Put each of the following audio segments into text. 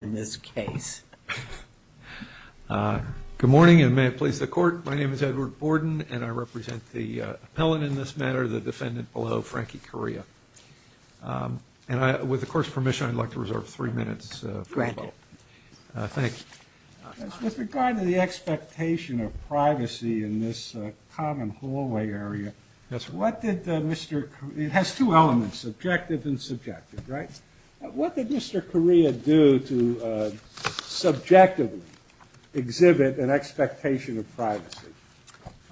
Good morning, and may it please the Court, my name is Edward Borden, and I represent the appellant in this matter, the defendant below, Frankie Correa. And with the Court's permission, I'd like to reserve three minutes for rebuttal. Granted. Thank you. With regard to the expectation of privacy in this common hallway area, what did Mr. Correa, it has two elements, subjective and subjective, right? What did Mr. Correa do to subjectively exhibit an expectation of privacy?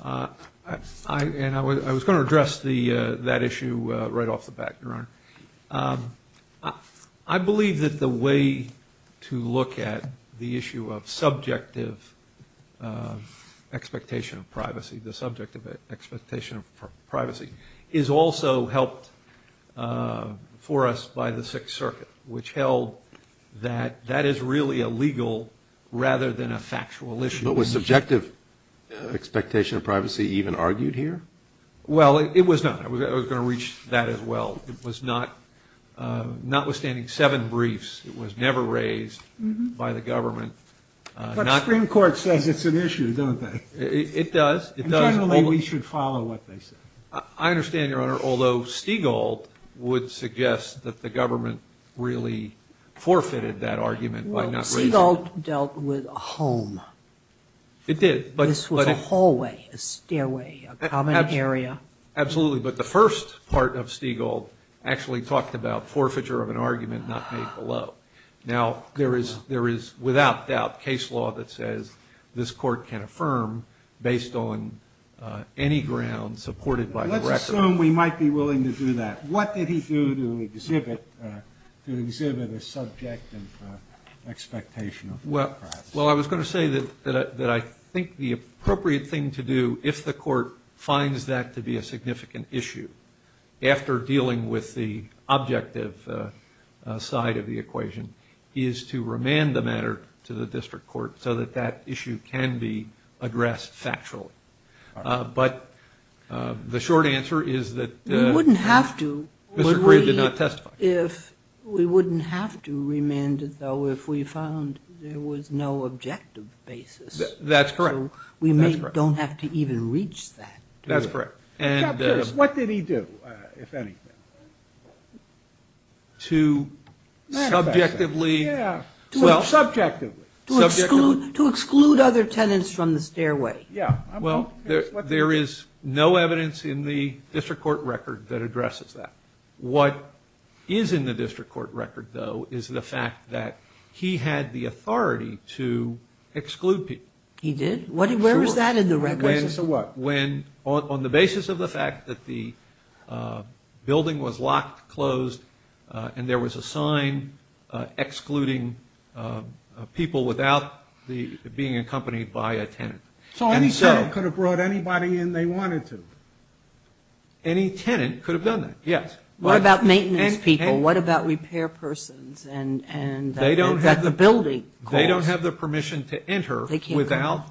I was going to address that issue right off the bat, Your Honor. I believe that the way to look at the issue of subjective expectation of privacy, the circuit which held that that is really a legal rather than a factual issue. But was subjective expectation of privacy even argued here? Well, it was not. I was going to reach that as well. It was not, notwithstanding seven briefs, it was never raised by the government. But Supreme Court says it's an issue, don't they? It does. Generally, we should follow what they say. I understand, Your Honor, although Stigall would suggest that the government really forfeited that argument by not raising it. Well, Stigall dealt with a home. It did. This was a hallway, a stairway, a common area. Absolutely. But the first part of Stigall actually talked about forfeiture of an argument not made below. Now, there is without doubt case law that says this Court can affirm based on any ground and supported by the record. Let's assume we might be willing to do that. What did he do to exhibit a subjective expectation of privacy? Well, I was going to say that I think the appropriate thing to do if the Court finds that to be a significant issue after dealing with the objective side of the equation is to remand the matter to the district court so that that issue can be addressed factually. But the short answer is that Mr. Gray did not testify. We wouldn't have to remand it, though, if we found there was no objective basis. That's correct. We don't have to even reach that. That's correct. What did he do, if anything? To subjectively... Subjectively. To exclude other tenants from the stairway. Well, there is no evidence in the district court record that addresses that. What is in the district court record, though, is the fact that he had the authority to exclude people. He did? Where was that in the record? On the basis of what? On the basis of the fact that the building was locked, closed, and there was a sign excluding people without being accompanied by a tenant. So any tenant could have brought anybody in they wanted to. Any tenant could have done that, yes. What about maintenance people? What about repair persons that the building calls? They don't have the permission to enter without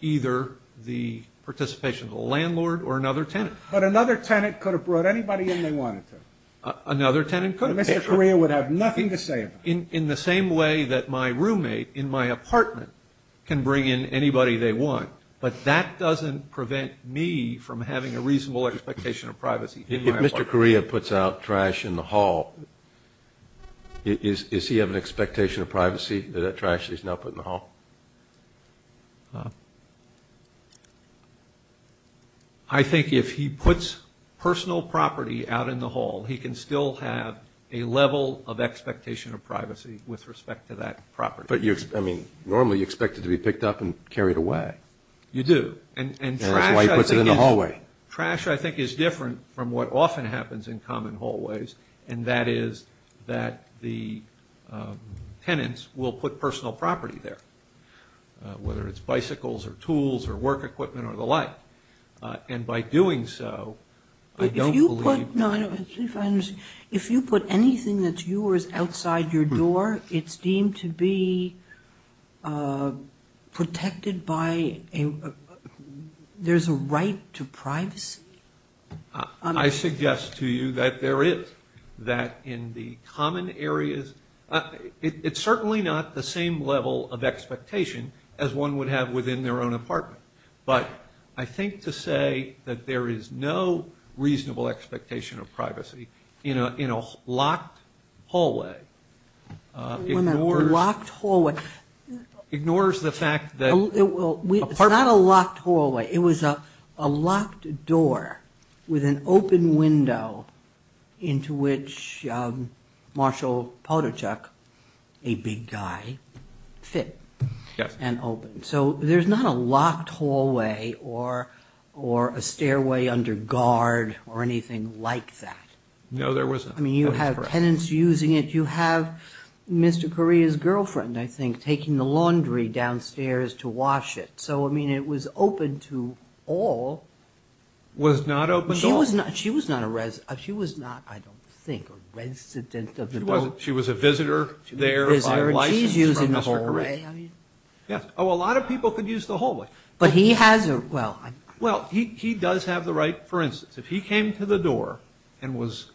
either the participation of a landlord or another tenant. But another tenant could have brought anybody in they wanted to. Another tenant could have. Mr. Correa would have nothing to say about it. In the same way that my roommate in my apartment can bring in anybody they want, but that doesn't prevent me from having a reasonable expectation of privacy. If Mr. Correa puts out trash in the hall, does he have an expectation of privacy that that trash is not put in the hall? I think if he puts personal property out in the hall, he can still have a level of expectation of privacy with respect to that property. But, I mean, normally you expect it to be picked up and carried away. You do. And that's why he puts it in the hallway. Trash, I think, is different from what often happens in common hallways, and that is that the tenants will put personal property there, whether it's bicycles or tools or work equipment or the like. And by doing so, I don't believe. If you put anything that's yours outside your door, it's deemed to be protected by a ‑‑ there's a right to privacy? I suggest to you that there is, that in the common areas, it's certainly not the same level of expectation as one would have within their own apartment. But I think to say that there is no reasonable expectation of privacy in a locked hallway ignores the fact that It's not a locked hallway. It was a locked door with an open window into which Marshall Podochuk, a big guy, fit. Yes. And opened. So there's not a locked hallway or a stairway under guard or anything like that. No, there wasn't. I mean, you have tenants using it. You have Mr. Correa's girlfriend, I think, taking the laundry downstairs to wash it. So, I mean, it was open to all. Was not open to all. She was not a resident. She was not, I don't think, a resident of the building. She was a visitor there by license from Mr. Correa. She's using the hallway. Yes. Oh, a lot of people could use the hallway. But he has a ‑‑ well, I'm ‑‑ Well, he does have the right, for instance, if he came to the door and was,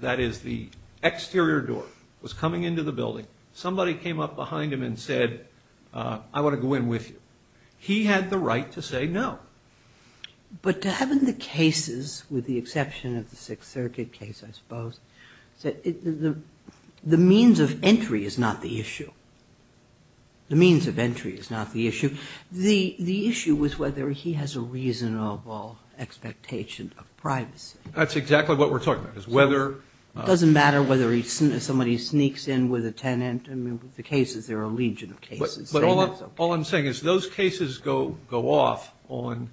that is, the exterior door, was coming into the building, somebody came up behind him and said, I want to go in with you. He had the right to say no. But to have in the cases, with the exception of the Sixth Circuit case, I suppose, the means of entry is not the issue. The means of entry is not the issue. The issue is whether he has a reasonable expectation of privacy. That's exactly what we're talking about, is whether ‑‑ It doesn't matter whether somebody sneaks in with a tenant. I mean, with the cases, there are a legion of cases. But all I'm saying is those cases go off on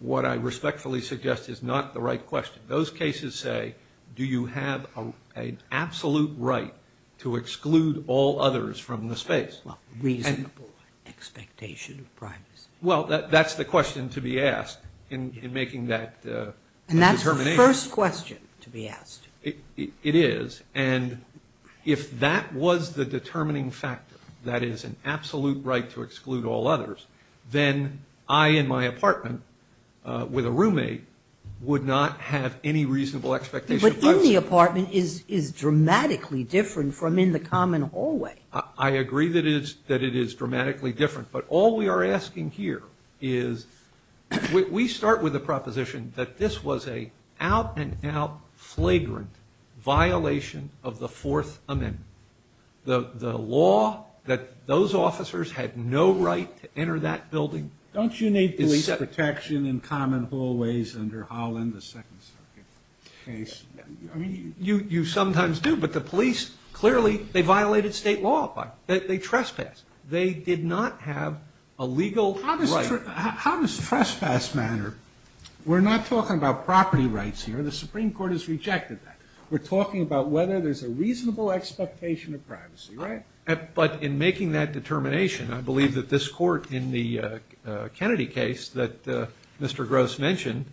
what I respectfully suggest is not the right question. Those cases say, do you have an absolute right to exclude all others from the space? Well, reasonable expectation of privacy. Well, that's the question to be asked in making that determination. And that's the first question to be asked. It is. And if that was the determining factor, that is, an absolute right to exclude all others, then I in my apartment with a roommate would not have any reasonable expectation of privacy. But in the apartment is dramatically different from in the common hallway. I agree that it is dramatically different. But all we are asking here is we start with the proposition that this was an out and out flagrant violation of the Fourth Amendment. The law that those officers had no right to enter that building. Don't you need police protection in common hallways under Howland, the Second Circuit case? You sometimes do. But the police, clearly, they violated state law. They trespassed. They did not have a legal right. How does trespass matter? We're not talking about property rights here. The Supreme Court has rejected that. We're talking about whether there's a reasonable expectation of privacy, right? But in making that determination, I believe that this court in the Kennedy case that Mr. Gross mentioned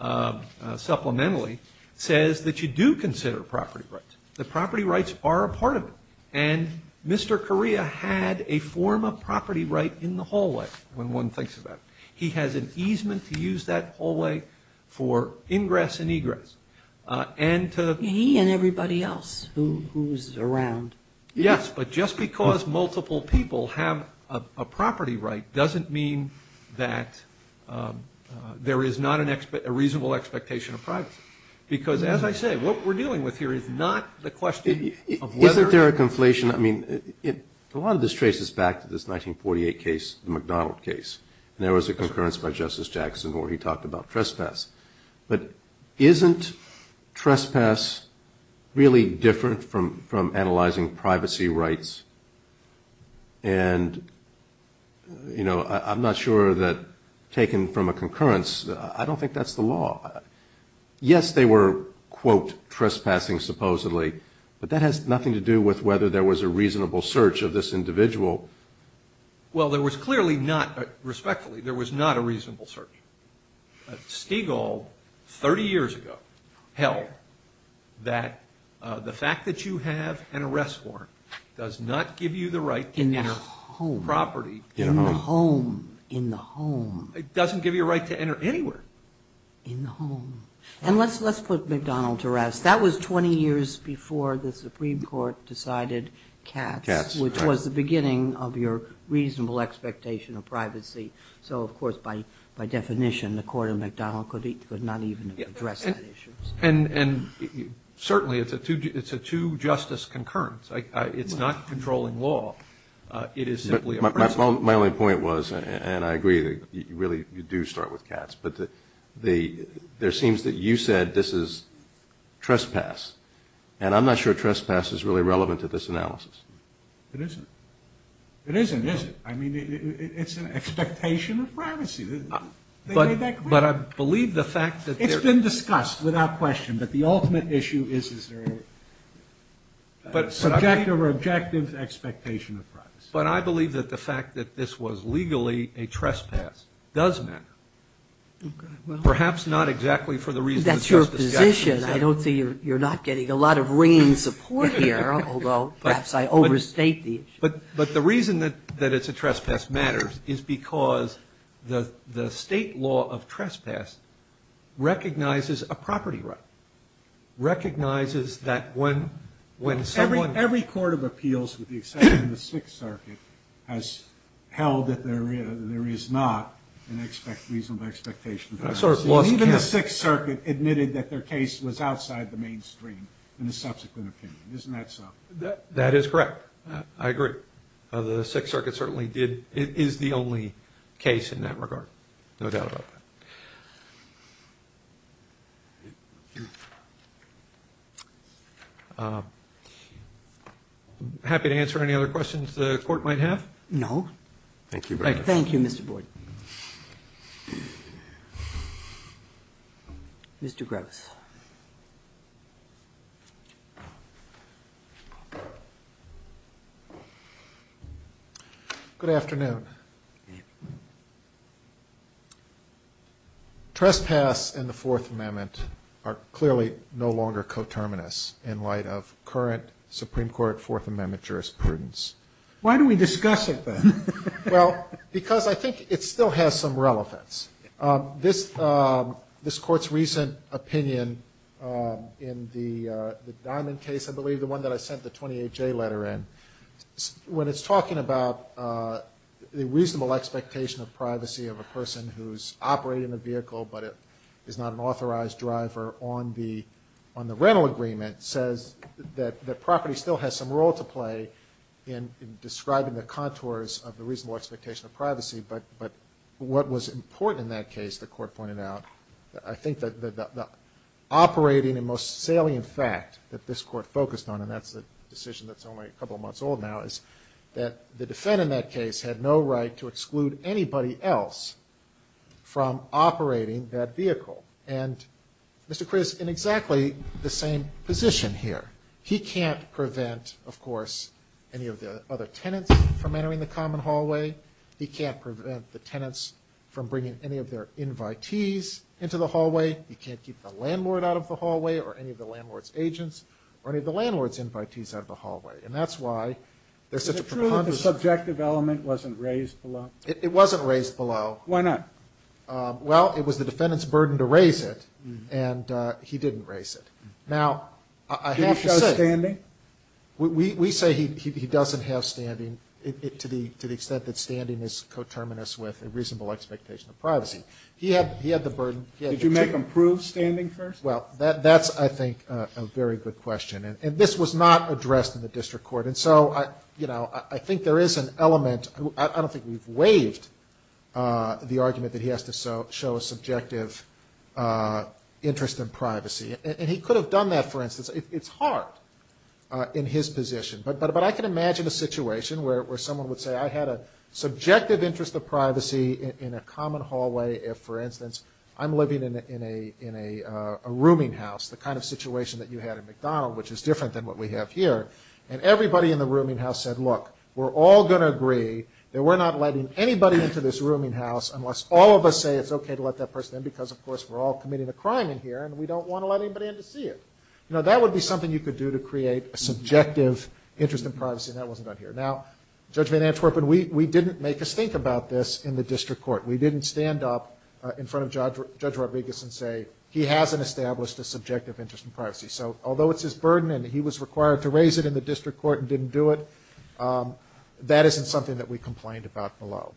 supplementally says that you do consider property rights. The property rights are a part of it. And Mr. Correa had a form of property right in the hallway, when one thinks about it. He has an easement to use that hallway for ingress and egress. He and everybody else who's around. Yes, but just because multiple people have a property right doesn't mean that there is not a reasonable expectation of privacy. Because, as I say, what we're dealing with here is not the question of whether. Isn't there a conflation? I mean, a lot of this traces back to this 1948 case, the McDonald case. And there was a concurrence by Justice Jackson where he talked about trespass. But isn't trespass really different from analyzing privacy rights? And, you know, I'm not sure that taken from a concurrence, I don't think that's the law. Yes, they were, quote, trespassing supposedly. But that has nothing to do with whether there was a reasonable search of this individual. Well, there was clearly not, respectfully, there was not a reasonable search. Stigall, 30 years ago, held that the fact that you have an arrest warrant does not give you the right to enter property. In the home, in the home. It doesn't give you a right to enter anywhere. In the home. And let's put McDonald to rest. That was 20 years before the Supreme Court decided Katz, which was the beginning of your reasonable expectation of privacy. So, of course, by definition, the Court of McDonald could not even address that issue. And certainly it's a two-justice concurrence. It's not controlling law. It is simply a practice. My only point was, and I agree that you really do start with Katz, but there seems that you said this is trespass. And I'm not sure trespass is really relevant to this analysis. It isn't. It isn't, is it? I mean, it's an expectation of privacy. They made that clear. But I believe the fact that there's... It's been discussed without question, but the ultimate issue is, is there a subjective or objective expectation of privacy? But I believe that the fact that this was legally a trespass does matter. Okay. Well... Perhaps not exactly for the reasons just discussed. That's your position. I don't think you're not getting a lot of ringing support here, although perhaps I overstate the issue. But the reason that it's a trespass matters is because the state law of trespass recognizes a property right, recognizes that when someone... Every court of appeals, with the exception of the Sixth Circuit, has held that there is not a reasonable expectation of privacy. Even the Sixth Circuit admitted that their case was outside the mainstream in a subsequent opinion. Isn't that so? That is correct. I agree. The Sixth Circuit certainly did... It is the only case in that regard. No doubt about that. Happy to answer any other questions the Court might have? No. Thank you very much. Thank you, Mr. Boyd. Mr. Gross. Good afternoon. Trespass and the Fourth Amendment are clearly no longer coterminous in light of current Supreme Court Fourth Amendment jurisprudence. Why do we discuss it, then? Well, because I think it still has some relevance. This Court's recent opinion in the Diamond case, I believe the one that I sent the 28-J letter in, when it's talking about the reasonable expectation of privacy of a person who's operating a vehicle but is not an authorized driver on the rental agreement, that property still has some role to play in describing the contours of the reasonable expectation of privacy. But what was important in that case, the Court pointed out, I think the operating and most salient fact that this Court focused on, and that's the decision that's only a couple of months old now, is that the defendant in that case had no right to exclude anybody else from operating that vehicle. And Mr. Chris, in exactly the same position here, he can't prevent, of course, any of the other tenants from entering the common hallway. He can't prevent the tenants from bringing any of their invitees into the hallway. He can't keep the landlord out of the hallway or any of the landlord's agents or any of the landlord's invitees out of the hallway. And that's why there's such a preponderance. Is it true that the subjective element wasn't raised below? It wasn't raised below. Why not? Well, it was the defendant's burden to raise it, and he didn't raise it. Now, I have to say. Did he show standing? We say he doesn't have standing to the extent that standing is coterminous with a reasonable expectation of privacy. He had the burden. Did you make him prove standing first? Well, that's, I think, a very good question. And this was not addressed in the district court. And so, you know, I think there is an element. I don't think we've waived the argument that he has to show a subjective interest in privacy. And he could have done that, for instance. It's hard in his position. But I can imagine a situation where someone would say, I had a subjective interest of privacy in a common hallway if, for instance, I'm living in a rooming house, the kind of situation that you had at McDonald's, which is different than what we have here. And everybody in the rooming house said, look, we're all going to agree that we're not letting anybody into this rooming house unless all of us say it's okay to let that person in because, of course, we're all committing a crime in here, and we don't want to let anybody in to see it. You know, that would be something you could do to create a subjective interest in privacy, and that wasn't done here. Now, Judge Van Antwerpen, we didn't make us think about this in the district court. We didn't stand up in front of Judge Rodriguez and say, he hasn't established a subjective interest in privacy. So although it's his burden and he was required to raise it in the district court and didn't do it, that isn't something that we complained about below.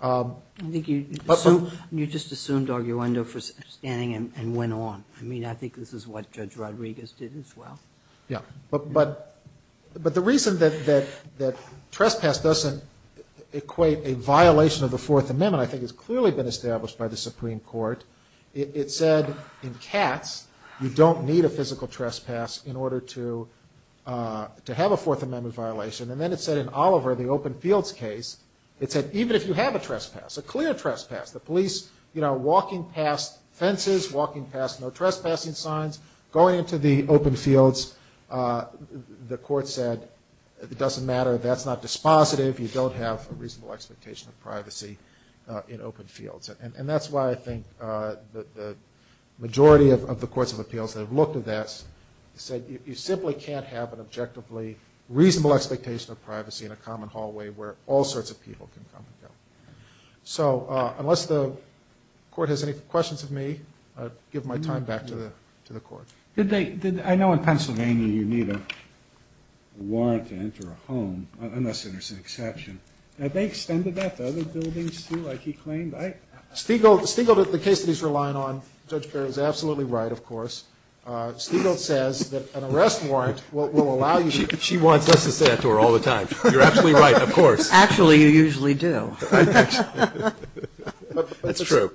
I think you just assumed arguendo for standing and went on. I mean, I think this is what Judge Rodriguez did as well. Yeah. But the reason that trespass doesn't equate a violation of the Fourth Amendment I think has clearly been established by the Supreme Court. It said in Katz, you don't need a physical trespass in order to have a Fourth Amendment violation. And then it said in Oliver, the open fields case, it said even if you have a trespass, a clear trespass, the police, you know, walking past fences, walking past no trespassing signs, going into the open fields, the court said it doesn't matter. That's not dispositive. You don't have a reasonable expectation of privacy in open fields. And that's why I think the majority of the courts of appeals that have looked at this said you simply can't have an objectively reasonable expectation of privacy in a common hallway where all sorts of people can come and go. So unless the court has any questions of me, I'll give my time back to the court. I know in Pennsylvania you need a warrant to enter a home, unless there's an exception. Have they extended that to other buildings, too, like he claimed? Stiegel, the case that he's relying on, Judge Perry, is absolutely right, of course. Stiegel says that an arrest warrant will allow you to go in. She wants us to say that to her all the time. You're absolutely right, of course. Actually, you usually do. That's true.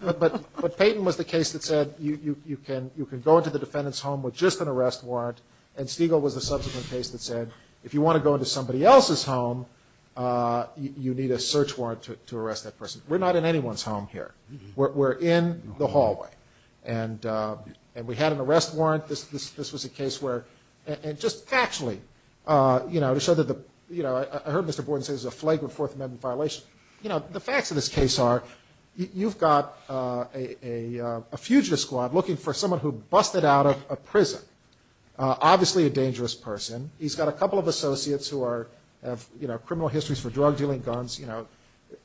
But Payton was the case that said you can go into the defendant's home with just an arrest warrant, and Stiegel was the subsequent case that said if you want to go into somebody else's home, you need a search warrant to arrest that person. We're not in anyone's home here. We're in the hallway. And we had an arrest warrant. This was a case where, and just factually, you know, to show that the, you know, I heard Mr. Borden say this is a flagrant Fourth Amendment violation. You know, the facts of this case are you've got a fugitive squad looking for someone who busted out a prison. Obviously a dangerous person. He's got a couple of associates who are, have, you know, criminal histories for drug-dealing guns, you know,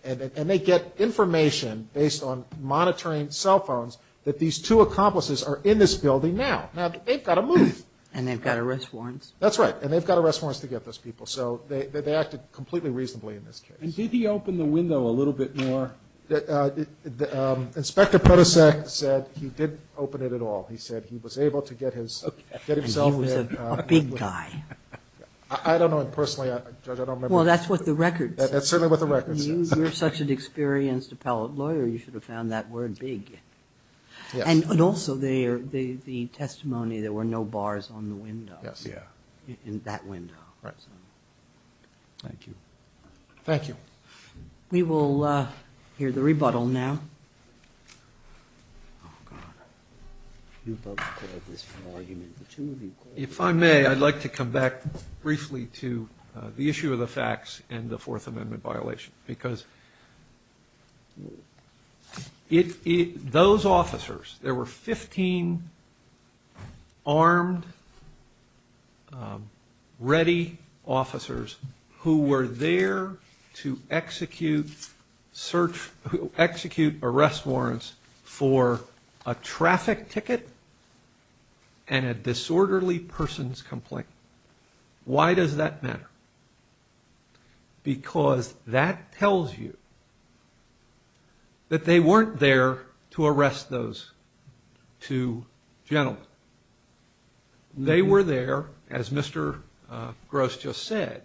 and they get information based on monitoring cell phones that these two accomplices are in this building now. Now, they've got to move. And they've got arrest warrants. That's right. And they've got arrest warrants to get those people. So they acted completely reasonably in this case. And did he open the window a little bit more? Inspector Podosek said he didn't open it at all. He said he was able to get his, get himself in. He was a big guy. I don't know. Personally, Judge, I don't remember. Well, that's what the record says. That's certainly what the record says. You're such an experienced appellate lawyer, you should have found that word big. Yes. And also the testimony, there were no bars on the window. Yes, yeah. In that window. Right. Thank you. Thank you. We will hear the rebuttal now. Oh, God. You both have this argument. The two of you. If I may, I'd like to come back briefly to the issue of the facts and the Fourth Amendment violation. Because those officers, there were 15 armed, ready officers who were there to execute search, execute arrest warrants for a traffic ticket and a disorderly person's complaint. Why does that matter? Because that tells you that they weren't there to arrest those two gentlemen. They were there, as Mr. Gross just said,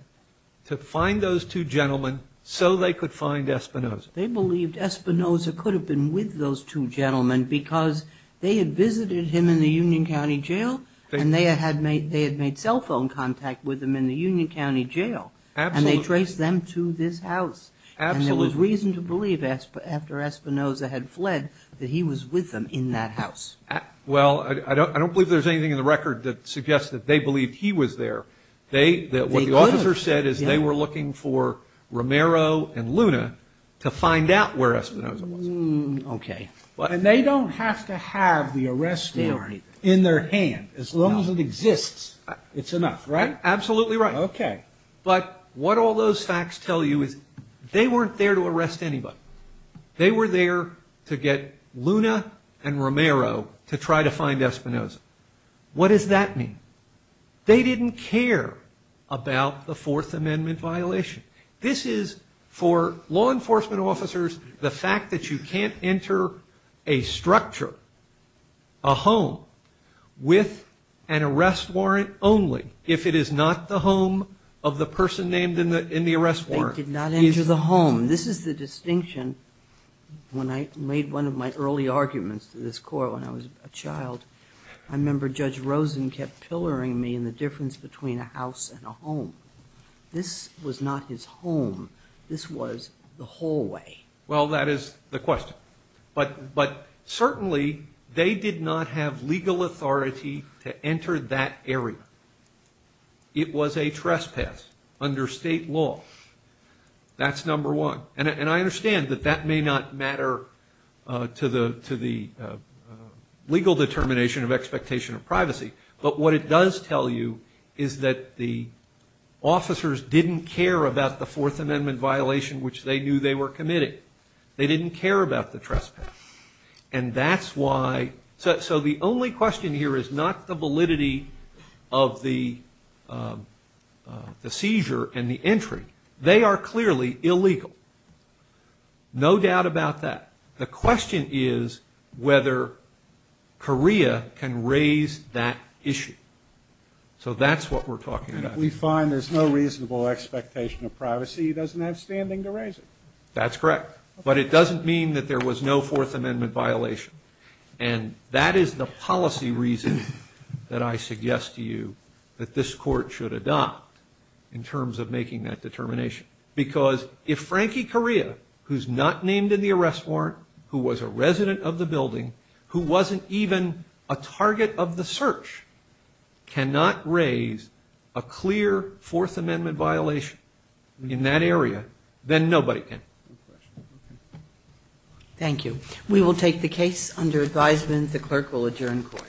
to find those two gentlemen so they could find Espinoza. They believed Espinoza could have been with those two gentlemen because they had visited him in the Union County Jail and they had made cell phone contact with him in the Union County Jail. Absolutely. And they traced them to this house. Absolutely. And there was reason to believe after Espinoza had fled that he was with them in that house. Well, I don't believe there's anything in the record that suggests that they believed he was there. What the officer said is they were looking for Romero and Luna to find out where Espinoza was. Okay. And they don't have to have the arrest warrant in their hand. As long as it exists, it's enough, right? Absolutely right. Okay. But what all those facts tell you is they weren't there to arrest anybody. They were there to get Luna and Romero to try to find Espinoza. What does that mean? They didn't care about the Fourth Amendment violation. This is, for law enforcement officers, the fact that you can't enter a structure, a home, with an arrest warrant only if it is not the home of the person named in the arrest warrant. They did not enter the home. This is the distinction. When I made one of my early arguments to this court when I was a child, I remember Judge Rosen kept pilloring me in the difference between a house and a home. This was not his home. This was the hallway. Well, that is the question. But certainly they did not have legal authority to enter that area. It was a trespass under state law. That's number one. And I understand that that may not matter to the legal determination of expectation of privacy. But what it does tell you is that the officers didn't care about the Fourth Amendment violation, which they knew they were committing. They didn't care about the trespass. And that's why so the only question here is not the validity of the seizure and the entry. They are clearly illegal. No doubt about that. The question is whether Korea can raise that issue. So that's what we're talking about. We find there's no reasonable expectation of privacy. He doesn't have standing to raise it. That's correct. But it doesn't mean that there was no Fourth Amendment violation. And that is the policy reason that I suggest to you that this court should adopt in terms of making that determination. Because if Frankie Korea, who's not named in the arrest warrant, who was a resident of the building, who wasn't even a target of the search, cannot raise a clear Fourth Amendment violation in that area, then nobody can. Thank you. We will take the case under advisement. The clerk will adjourn court. Thank you.